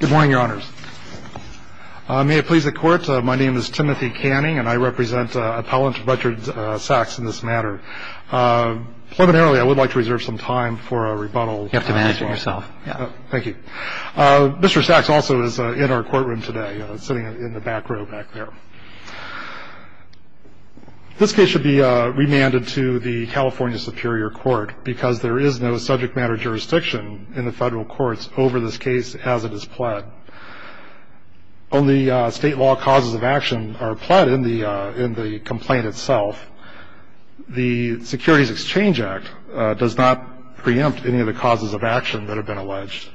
Good morning, Your Honors. May it please the Court, my name is Timothy Canning, and I represent Appellant Richard Sacks in this matter. Preliminarily, I would like to reserve some time for a rebuttal. You have to manage it yourself. Thank you. Mr. Sacks also is in our courtroom today, sitting in the back row back there. This case should be remanded to the California Superior Court because there is no subject matter jurisdiction in the federal courts over this case as it is pled. Only state law causes of action are pled in the complaint itself. The Securities Exchange Act does not preempt any of the causes of action that have been alleged.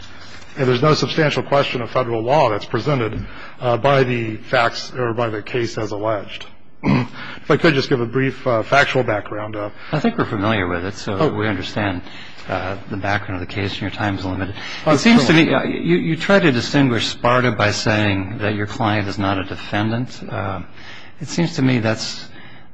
And there is no substantial question of federal law that is presented by the facts or by the case as alleged. If I could just give a brief factual background. I think we are familiar with it, so we understand the background of the case and your time is limited. It seems to me, you try to distinguish SPARTA by saying that your client is not a defendant. It seems to me that's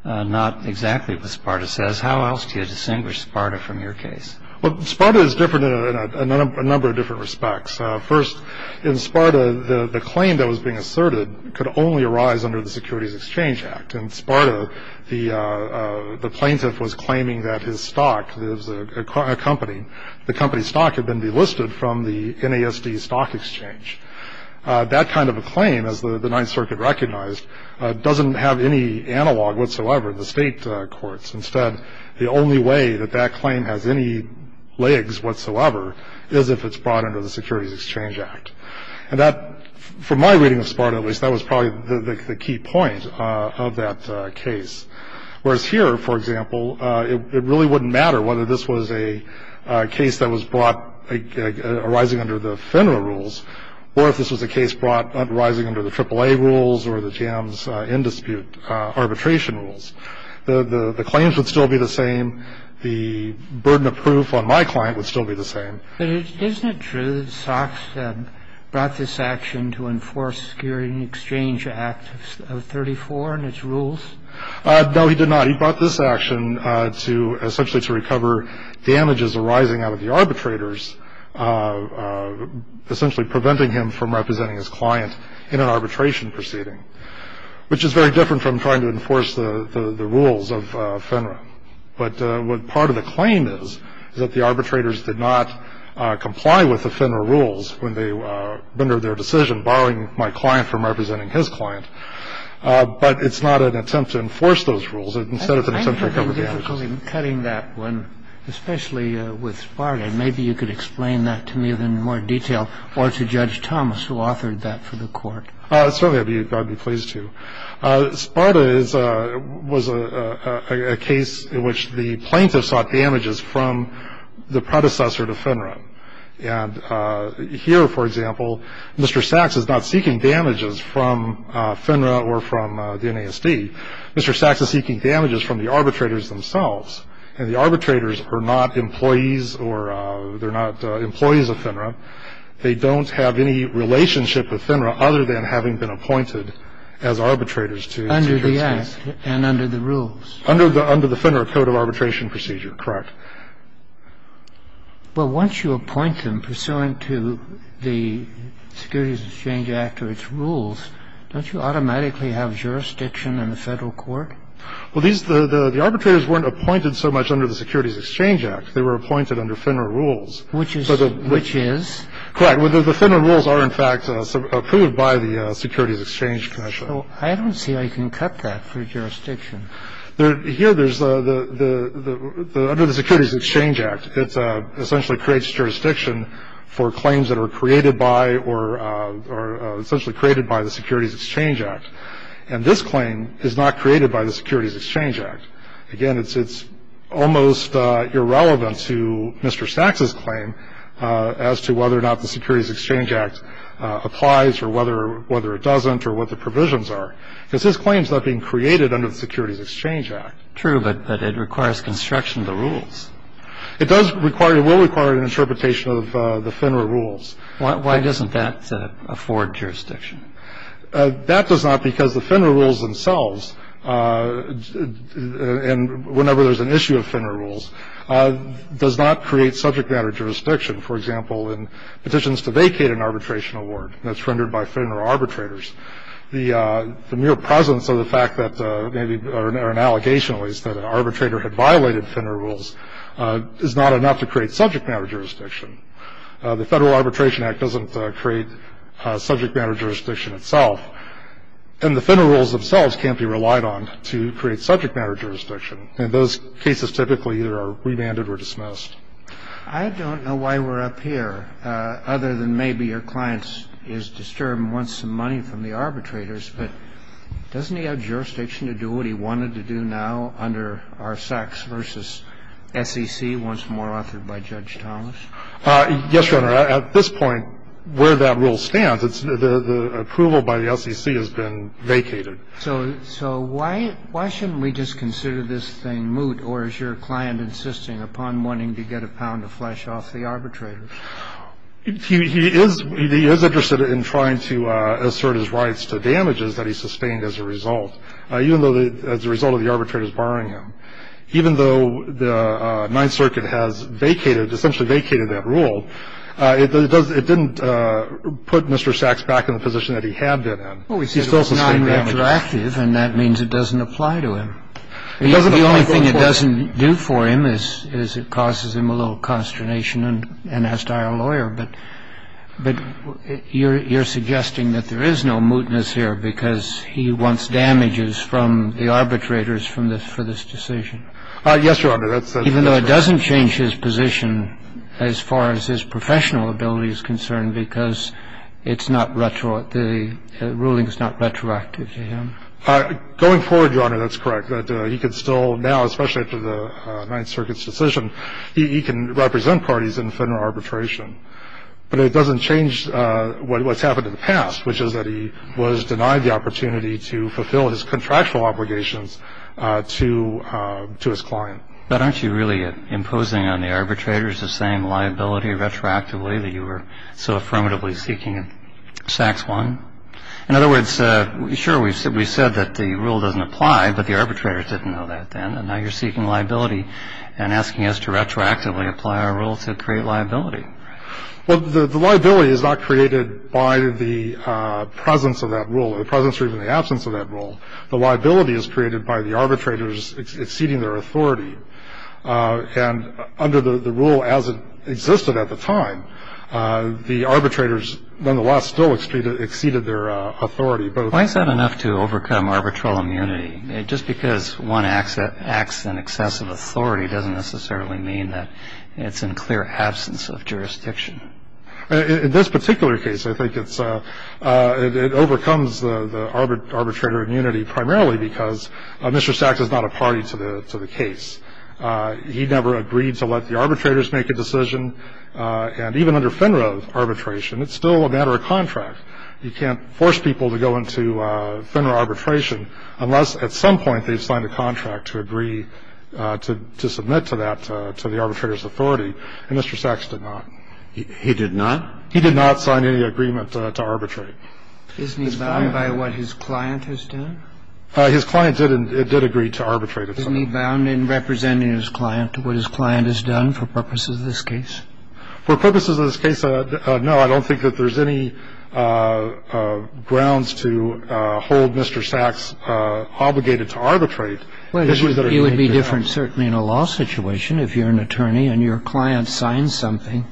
not exactly what SPARTA says. How else do you distinguish SPARTA from your case? Well, SPARTA is different in a number of different respects. First, in SPARTA, the claim that was being asserted could only arise under the Securities Exchange Act. In SPARTA, the plaintiff was claiming that his stock, a company, the company's stock had been delisted from the NASD stock exchange. That kind of a claim, as the Ninth Circuit recognized, doesn't have any analog whatsoever in the state courts. Instead, the only way that that claim has any legs whatsoever is if it's brought under the Securities Exchange Act. And that, from my reading of SPARTA at least, that was probably the key point of that case. Whereas here, for example, it really wouldn't matter whether this was a case that was brought arising under the FINRA rules or if this was a case brought arising under the AAA rules or the JAMS in-dispute arbitration rules. The claims would still be the same. The burden of proof on my client would still be the same. But isn't it true that Sox brought this action to enforce the Securities Exchange Act of 1934 and its rules? No, he did not. He brought this action to essentially to recover damages arising out of the arbitrators, essentially preventing him from representing his client in an arbitration proceeding, which is very different from trying to enforce the rules of FINRA. But what part of the claim is, is that the arbitrators did not comply with the FINRA rules when they rendered their decision, barring my client from representing his client. But it's not an attempt to enforce those rules instead of an attempt to recover damages. I have a difficulty cutting that one, especially with Sparta. Maybe you could explain that to me in more detail or to Judge Thomas, who authored that for the Court. Certainly, I'd be pleased to. Sparta was a case in which the plaintiff sought damages from the predecessor to FINRA. And here, for example, Mr. Sachs is not seeking damages from FINRA or from the NASD. Mr. Sachs is seeking damages from the arbitrators themselves. And the arbitrators are not employees or they're not employees of FINRA. They don't have any relationship with FINRA other than having been appointed as arbitrators to the case. Under the Act and under the rules? Under the FINRA Code of Arbitration Procedure, correct. Well, once you appoint them pursuant to the Securities Exchange Act or its rules, don't you automatically have jurisdiction in the Federal Court? Well, the arbitrators weren't appointed so much under the Securities Exchange Act. They were appointed under FINRA rules. Which is? Correct. The FINRA rules are, in fact, approved by the Securities Exchange Commission. I don't see how you can cut that for jurisdiction. Here, under the Securities Exchange Act, it essentially creates jurisdiction for claims that are created by or essentially created by the Securities Exchange Act. And this claim is not created by the Securities Exchange Act. Again, it's almost irrelevant to Mr. Sachs' claim as to whether or not the Securities Exchange Act applies or whether it doesn't or what the provisions are, because this claim is not being created under the Securities Exchange Act. True, but it requires construction of the rules. It does require or will require an interpretation of the FINRA rules. Why doesn't that afford jurisdiction? That does not because the FINRA rules themselves, and whenever there's an issue of FINRA rules, does not create subject matter jurisdiction. For example, in petitions to vacate an arbitration award that's rendered by FINRA arbitrators, the mere presence of the fact that maybe, or an allegation at least, that an arbitrator had violated FINRA rules is not enough to create subject matter jurisdiction. The Federal Arbitration Act doesn't create subject matter jurisdiction itself, and the FINRA rules themselves can't be relied on to create subject matter jurisdiction, and those cases typically either are remanded or dismissed. I don't know why we're up here, other than maybe your client is disturbed once again by the fact that the SEC has been vacated, and the SEC has been granted some money from the arbitrators, but doesn't he have jurisdiction to do what he wanted to do now under R. Sachs v. SEC, once more authored by Judge Thomas? Yes, Your Honor. At this point, where that rule stands, the approval by the SEC has been vacated. So why shouldn't we just consider this thing moot, or is your client insisting upon wanting to get a pound of flesh off the arbitrators? He is interested in trying to assert his rights to damages that he sustained as a result, even though the as a result of the arbitrators barring him. Even though the Ninth Circuit has vacated, essentially vacated that rule, it didn't put Mr. Sachs back in the position that he had been in. He still sustained damages. He's being retroactive, and that means it doesn't apply to him. The only thing it doesn't do for him is it causes him a little consternation and has to hire a lawyer, but you're suggesting that there is no mootness here because he wants damages from the arbitrators for this decision. Yes, Your Honor. Even though it doesn't change his position as far as his professional ability is concerned because it's not retroactive, the ruling is not retroactive to him? Going forward, Your Honor, that's correct. He can still now, especially after the Ninth Circuit's decision, he can represent parties in federal arbitration, but it doesn't change what's happened in the past, which is that he was denied the opportunity to fulfill his contractual obligations to his client. But aren't you really imposing on the arbitrators the same liability retroactively that you were so affirmatively seeking in S.A.C.S. 1? In other words, sure, we said that the rule doesn't apply, but the arbitrators didn't know that then, and now you're seeking liability and asking us to retroactively apply our rule to create liability. Well, the liability is not created by the presence of that rule, or the presence or even the absence of that rule. The liability is created by the arbitrators exceeding their authority, and under the rule as it existed at the time, the arbitrators nonetheless still exceeded their authority. Why is that enough to overcome arbitral immunity? Just because one acts in excessive authority doesn't necessarily mean that it's in clear absence of jurisdiction. In this particular case, I think it overcomes the arbitrator immunity primarily because Mr. S.A.C.S. is not a party to the case. He never agreed to let the arbitrators make a decision, and even under FINRA arbitration, it's still a matter of contract. You can't force people to go into FINRA arbitration unless at some point they've signed a contract to agree to submit to that, to the arbitrator's authority, and Mr. S.A.C.S. did not. He did not? He did not sign any agreement to arbitrate. Isn't he bound by what his client has done? His client did agree to arbitrate. Isn't he bound in representing his client to what his client has done for purposes of this case? For purposes of this case, no. I don't think that there's any grounds to hold Mr. S.A.C.S. obligated to arbitrate. It would be different certainly in a law situation. If you're an attorney and your client signs something,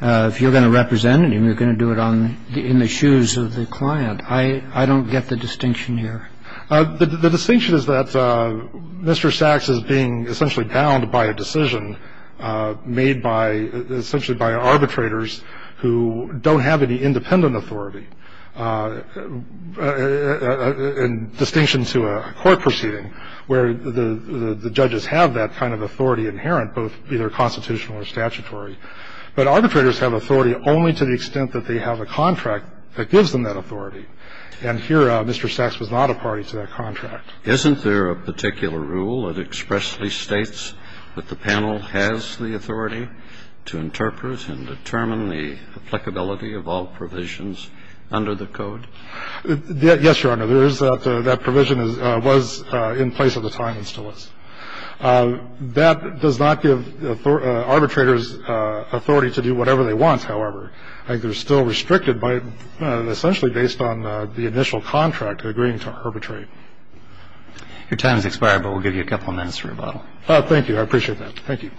if you're going to represent him, you're going to do it in the shoes of the client. I don't get the distinction here. The distinction is that Mr. S.A.C.S. is being essentially bound by a decision made by, essentially by arbitrators who don't have any independent authority. In distinction to a court proceeding where the judges have that kind of authority inherent, both either constitutional or statutory, but arbitrators have authority only to the extent that they have a contract that gives them that authority. And here, Mr. S.A.C.S. was not a party to that contract. Isn't there a particular rule that expressly states that the panel has the authority to interpret and determine the applicability of all provisions under the Code? Yes, Your Honor. There is that provision was in place at the time it's to us. That does not give arbitrators authority to do whatever they want, however. I think they're still restricted by, essentially based on the initial contract agreeing to arbitrate. Your time has expired, but we'll give you a couple of minutes for rebuttal. Thank you. I appreciate that. Thank you.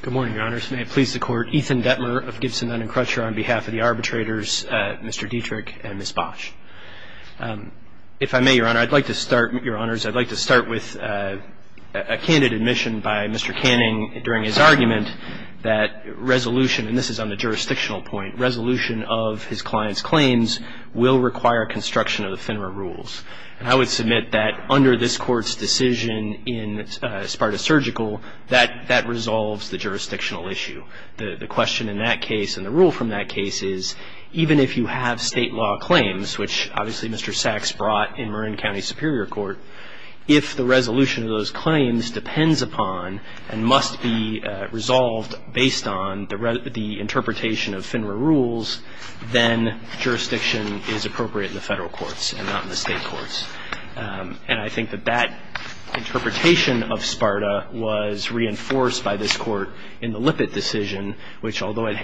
Good morning, Your Honors. May it please the Court. Ethan Detmer of Gibson, Nunn and Crutcher on behalf of the arbitrators, Mr. Dietrich and Ms. Bosch. If I may, Your Honor, I'd like to start, Your Honors, I'd like to start with a candid admission by Mr. Canning during his argument that resolution, and this is on the jurisdictional point, resolution of his client's claims will require construction of the FINRA rules. And I would submit that under this Court's decision in Sparta Surgical, that that resolves the jurisdictional issue. The question in that case and the rule from that case is, even if you have State law claims, which obviously Mr. Sachs brought in Marin County Superior Court, if the resolution of those claims depends upon and must be resolved based on the interpretation of FINRA rules, then jurisdiction is appropriate in the Federal courts and not in the State courts. And I think that that interpretation of Sparta was reinforced by this Court in the Lippitt decision, which although it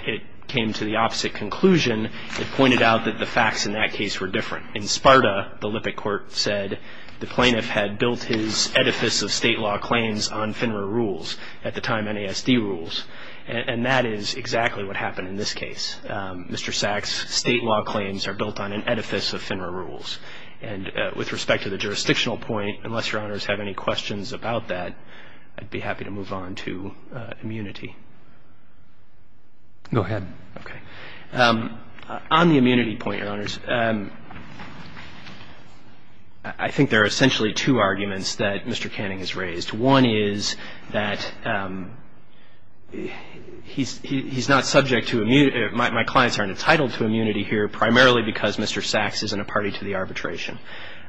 came to the opposite conclusion, it pointed out that the facts in that case were different. In Sparta, the Lippitt Court said the plaintiff had built his edifice of State law claims on FINRA rules, at the time NASD rules. And that is exactly what happened in this case. Mr. Sachs' State law claims are built on an edifice of FINRA rules. And with respect to the jurisdictional point, unless Your Honors have any questions about that, I'd be happy to move on to immunity. Go ahead. Okay. On the immunity point, Your Honors, I think there are essentially two arguments that Mr. Canning has raised. One is that he's not subject to immunity. My clients aren't entitled to immunity here, primarily because Mr. Sachs isn't a party to the arbitration.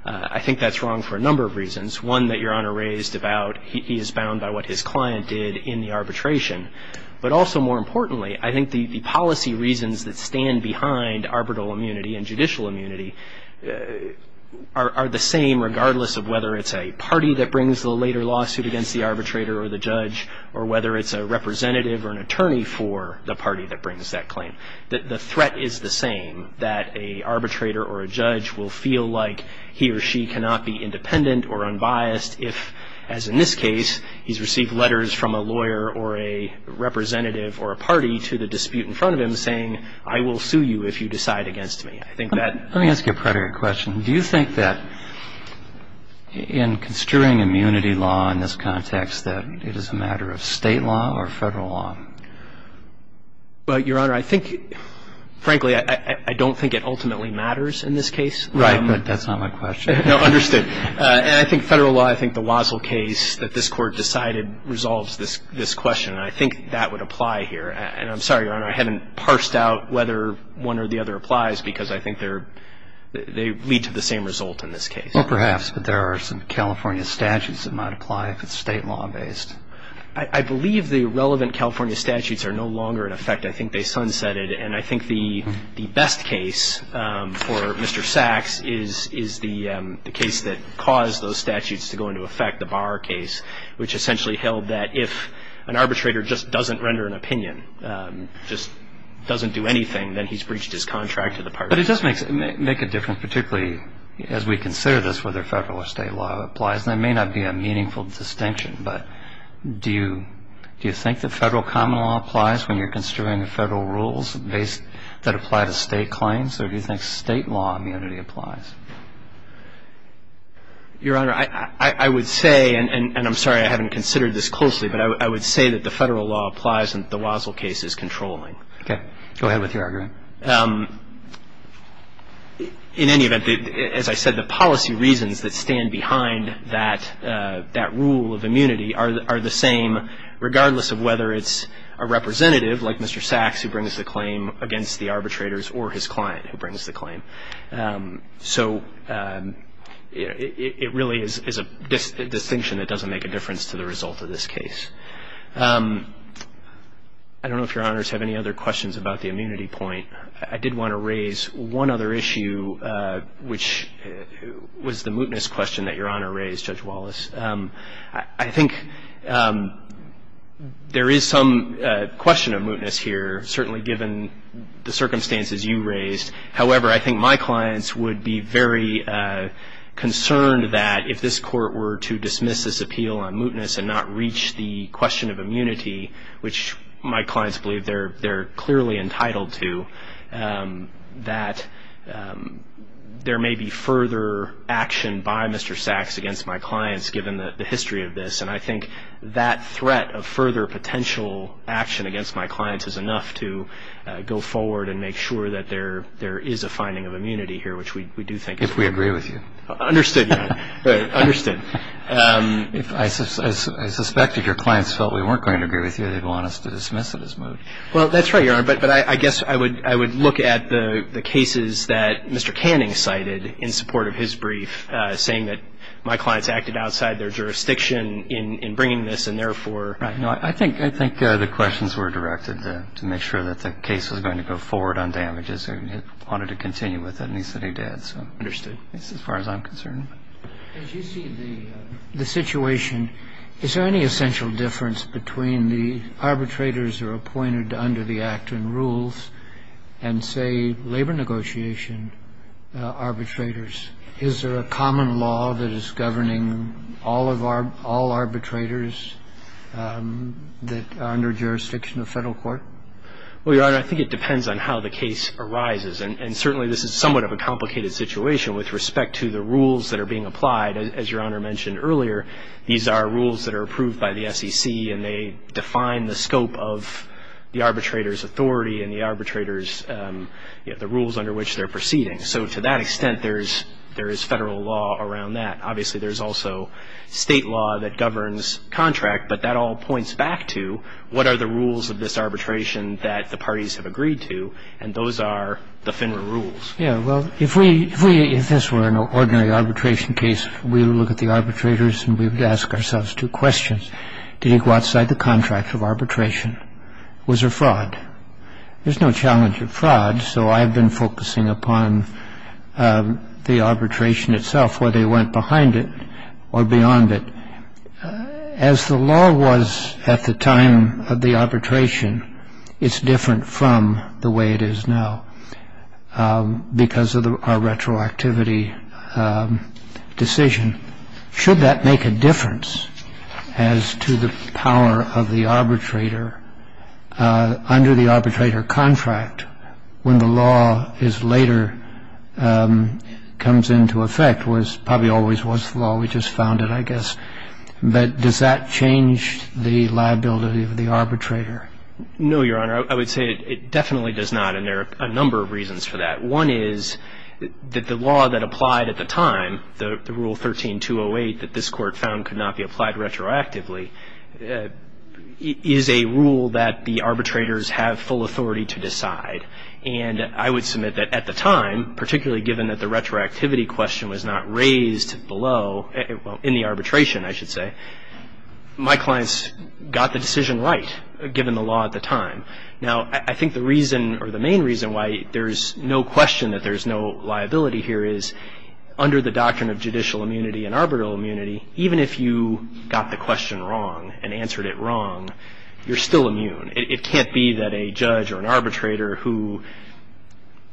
I think that's wrong for a number of reasons. One that Your Honor raised about he is bound by what his client did in the arbitration. But also, more importantly, I think the policy reasons that stand behind arbitral immunity and judicial immunity are the same, regardless of whether it's a party that brings the later lawsuit against the arbitrator or the judge, or whether it's a representative or an attorney for the party that brings that claim. The threat is the same, that a arbitrator or a judge will feel like he or she cannot be independent or unbiased if, as in this case, he's received letters from a lawyer or a representative or a party to the dispute in front of him saying, I will sue you if you decide against me. I think that... Let me ask you a prior question. Do you think that in construing immunity law in this context, that it is a matter of state law or federal law? Well, Your Honor, I think, frankly, I don't think it ultimately matters in this case. Right, but that's not my question. No, understood. And I think federal law, I think the Wazzell case that this Court decided resolves this question. And I think that would apply here. And I'm sorry, Your Honor, I haven't parsed out whether one or the other applies, because I think they lead to the same result in this case. Well, perhaps. But there are some California statutes that might apply if it's state law based. I believe the relevant California statutes are no longer in effect. I think they sunsetted. And I think the best case for Mr. Sachs is the case that caused those statutes to go into effect, the Barr case, which essentially held that if an arbitrator just doesn't render an opinion, just doesn't do anything, then he's breached his contract to the party. But it does make a difference, particularly as we consider this, whether federal or state law applies. And it may not be a meaningful distinction, but do you think that federal common law applies when you're considering the federal rules that apply to state claims, or do you think state law immunity applies? Your Honor, I would say, and I'm sorry I haven't considered this closely, but I would say that the federal law applies and the Wazzell case is controlling. Okay. Go ahead with your argument. In any event, as I said, the policy reasons that stand behind that rule of immunity are the same regardless of whether it's a representative like Mr. Sachs who brings the claim against the arbitrators or his client who brings the claim. So it really is a distinction that doesn't make a difference to the result of this case. I don't know if Your Honors have any other questions about the immunity point. I did want to raise one other issue, which was the mootness question that Your Honor raised, Judge Wallace. I think there is some question of mootness here, certainly given the circumstances you raised. However, I think my clients would be very concerned that if this Court were to dismiss this appeal on mootness and not reach the question of immunity, which my clients believe they're clearly entitled to, that there may be further action by Mr. Sachs against my clients, given the history of this. And I think that threat of further potential action against my clients is enough to go forward and make sure that there is a finding of immunity here, which we do think is important. If we agree with you. Understood, Your Honor. Understood. I suspect if your clients felt we weren't going to agree with you, they'd want us to dismiss it as moot. Well, that's right, Your Honor. But I guess I would look at the cases that Mr. Canning cited in support of his brief, saying that my clients acted outside their jurisdiction in bringing this, and therefore Right. No, I think the questions were directed to make sure that the case was going to go forward on damages, and he wanted to continue with it, and he said he did. Understood. That's as far as I'm concerned. As you see the situation, is there any essential difference between the arbitrators who are appointed under the Act and rules, and say, labor negotiation arbitrators? Is there a common law that is governing all arbitrators that are under jurisdiction of federal court? Well, Your Honor, I think it depends on how the case arises, and certainly this is somewhat of a complicated situation with respect to the rules that are being applied. As Your Honor mentioned earlier, these are rules that are approved by the SEC, and they are subject to the rules of the arbitrator's authority and the arbitrator's the rules under which they're proceeding. So to that extent, there is federal law around that. Obviously, there's also state law that governs contract, but that all points back to what are the rules of this arbitration that the parties have agreed to, and those are the FINRA rules. Yes. Well, if this were an ordinary arbitration case, we would look at the arbitrators and we would ask ourselves two questions. Did he go outside the contract of arbitration? Was there fraud? There's no challenge of fraud, so I've been focusing upon the arbitration itself, whether he went behind it or beyond it. As the law was at the time of the arbitration, it's different from the way it is now because of our retroactivity decision. Should that make a difference as to the power of the arbitrator under the arbitrator contract when the law is later comes into effect, was probably always was the law. We just found it, I guess. But does that change the liability of the arbitrator? No, Your Honor. I would say it definitely does not, and there are a number of reasons for that. One is that the law that applied at the time, the Rule 13-208 that this Court found could not be applied retroactively, is a rule that the arbitrators have full authority to decide. And I would submit that at the time, particularly given that the retroactivity question was not raised below, in the arbitration, I should say, my clients got the decision right given the law at the time. Now, I think the reason, or the main reason, why there's no question that there's no liability here is under the doctrine of judicial immunity and arbitral immunity, even if you got the question wrong and answered it wrong, you're still immune. It can't be that a judge or an arbitrator who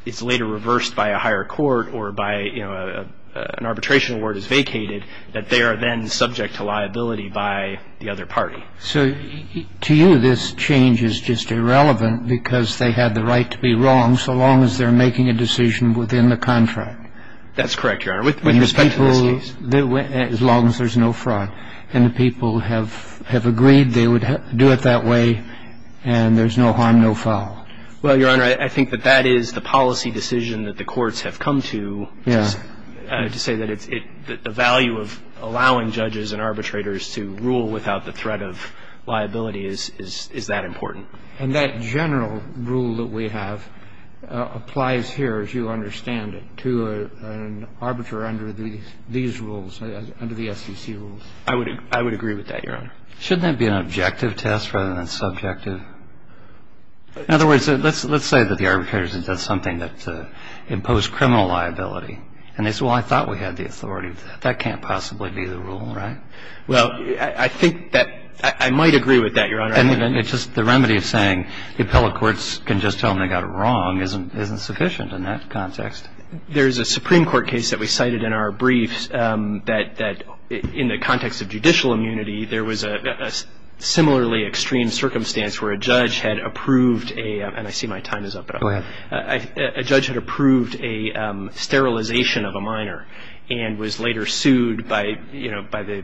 is later reversed by a higher court or by an arbitration award is vacated, that they are then subject to liability by the other party. So to you, this change is just irrelevant because they have the right to be wrong so long as they're making a decision within the contract. That's correct, Your Honor, with respect to this case. As long as there's no fraud. And the people have agreed they would do it that way, and there's no harm, no foul. Well, Your Honor, I think that that is the policy decision that the courts have come to to say that the value of allowing judges and arbitrators to rule without the threat of liability is that important. And that general rule that we have applies here, as you understand it, to an arbitrator under these rules, under the SEC rules. I would agree with that, Your Honor. Shouldn't that be an objective test rather than subjective? In other words, let's say that the arbitrators have done something that imposed criminal liability, and they say, well, I thought we had the authority. That can't possibly be the rule, right? Well, I think that I might agree with that, Your Honor. And it's just the remedy of saying the appellate courts can just tell them they got it wrong isn't sufficient in that context. There's a Supreme Court case that we cited in our briefs that in the context of judicial immunity, there was a similarly extreme circumstance where a judge had approved a, and I see my time is up, but a judge had approved a sterilization of a minor and was later sued by, you know, by the,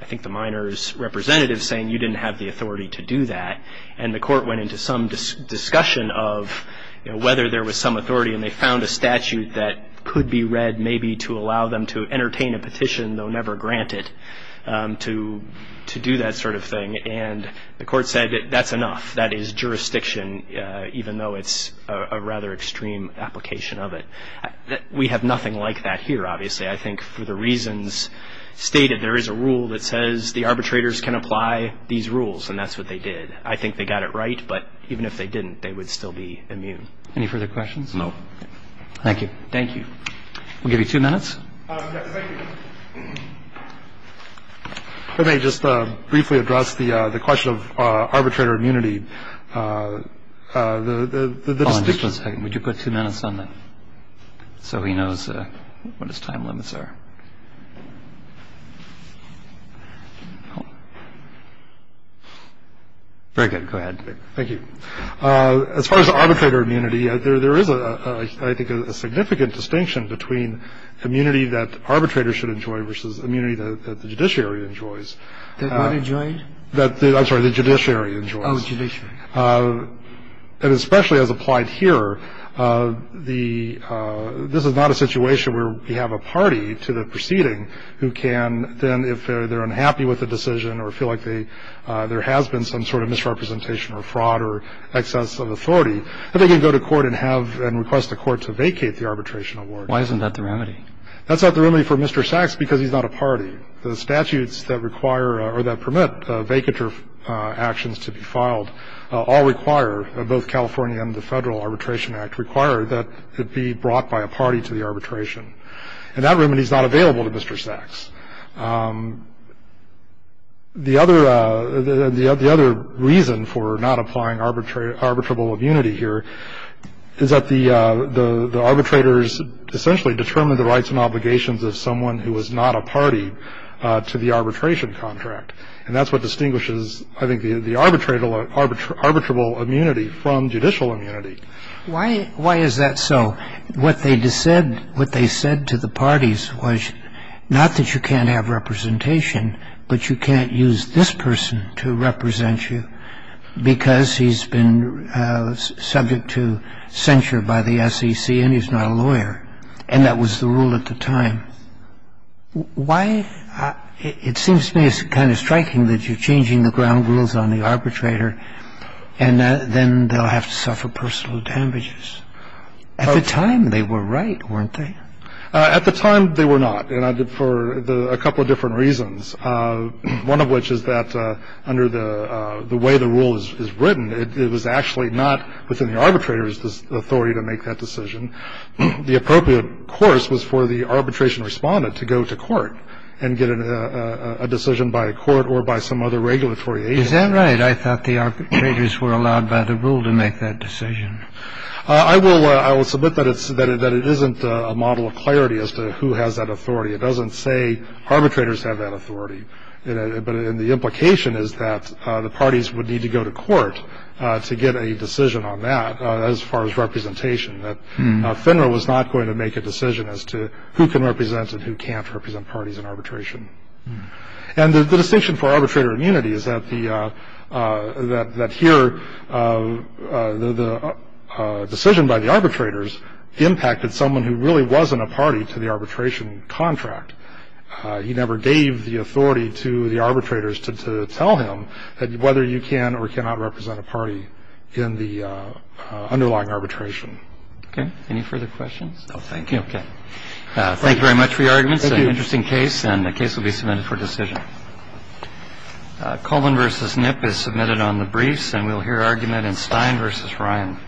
I think the minor's representative saying you didn't have the authority to do that. And the court went into some discussion of, you know, whether there was some authority and they found a statute that could be read maybe to allow them to entertain a petition, though never granted, to do that sort of thing. And the court said that's enough. That is jurisdiction, even though it's a rather extreme application of it. We have nothing like that here, obviously. I think for the reasons stated, there is a rule that says the arbitrators can apply these rules, and that's what they did. I think they got it right, but even if they didn't, they would still be immune. Any further questions? No. Thank you. Thank you. We'll give you two minutes. Yes, thank you. If I may just briefly address the question of arbitrator immunity, the distinction One second, would you put two minutes on that, so he knows what his time limits are? Very good, go ahead. Thank you. As far as arbitrator immunity, there is, I think, a significant distinction between immunity that arbitrators should enjoy versus immunity that the judiciary enjoys. That what enjoys? That, I'm sorry, the judiciary enjoys. Oh, judiciary. And especially as applied here, this is not a situation where we have a party to the proceeding who can, then if they're unhappy with the decision or feel like there has been some sort of misrepresentation or fraud or excess of authority, they can go to court and request the court to vacate the arbitration award. Why isn't that the remedy? That's not the remedy for Mr. Sachs because he's not a party. The statutes that require or that permit vacatur actions to be filed all require, both California and the Federal Arbitration Act, require that it be brought by a party to the arbitration. And that remedy is not available to Mr. Sachs. The other reason for not applying arbitrable immunity here is that the arbitrators essentially determine the rights and obligations of someone who is not a party to the arbitration contract. And that's what distinguishes, I think, the arbitrable immunity from judicial immunity. Why is that so? What they said to the parties was not that you can't have representation, but you can't use this person to represent you because he's been subject to censure by the SEC and he's not a lawyer. And that was the rule at the time. Why, it seems to me it's kind of striking that you're changing the ground rules on the arbitrator, and then they'll have to suffer personal damages. At the time, they were right, weren't they? At the time, they were not, and I did for a couple of different reasons. One of which is that under the way the rule is written, it was actually not within the arbitrator's authority to make that decision. The appropriate course was for the arbitration respondent to go to court and get a decision by a court or by some other regulatory agent. Is that right? I thought the arbitrators were allowed by the rule to make that decision. I will submit that it isn't a model of clarity as to who has that authority. It doesn't say arbitrators have that authority. But the implication is that the parties would need to go to court to get a decision on that as far as representation, that FINRA was not going to make a decision as to who can represent and who can't represent parties in arbitration. And the distinction for arbitrator immunity is that here the decision by the arbitrators impacted someone who really wasn't a party to the arbitration contract. He never gave the authority to the arbitrators to tell him that whether you can or cannot represent a party in the underlying arbitration. Okay, any further questions? Thank you. Okay. Thank you very much for your arguments. Thank you. It's an interesting case and the case will be submitted for decision. Coleman versus Nip is submitted on the briefs and we'll hear argument in Stein versus Ryan.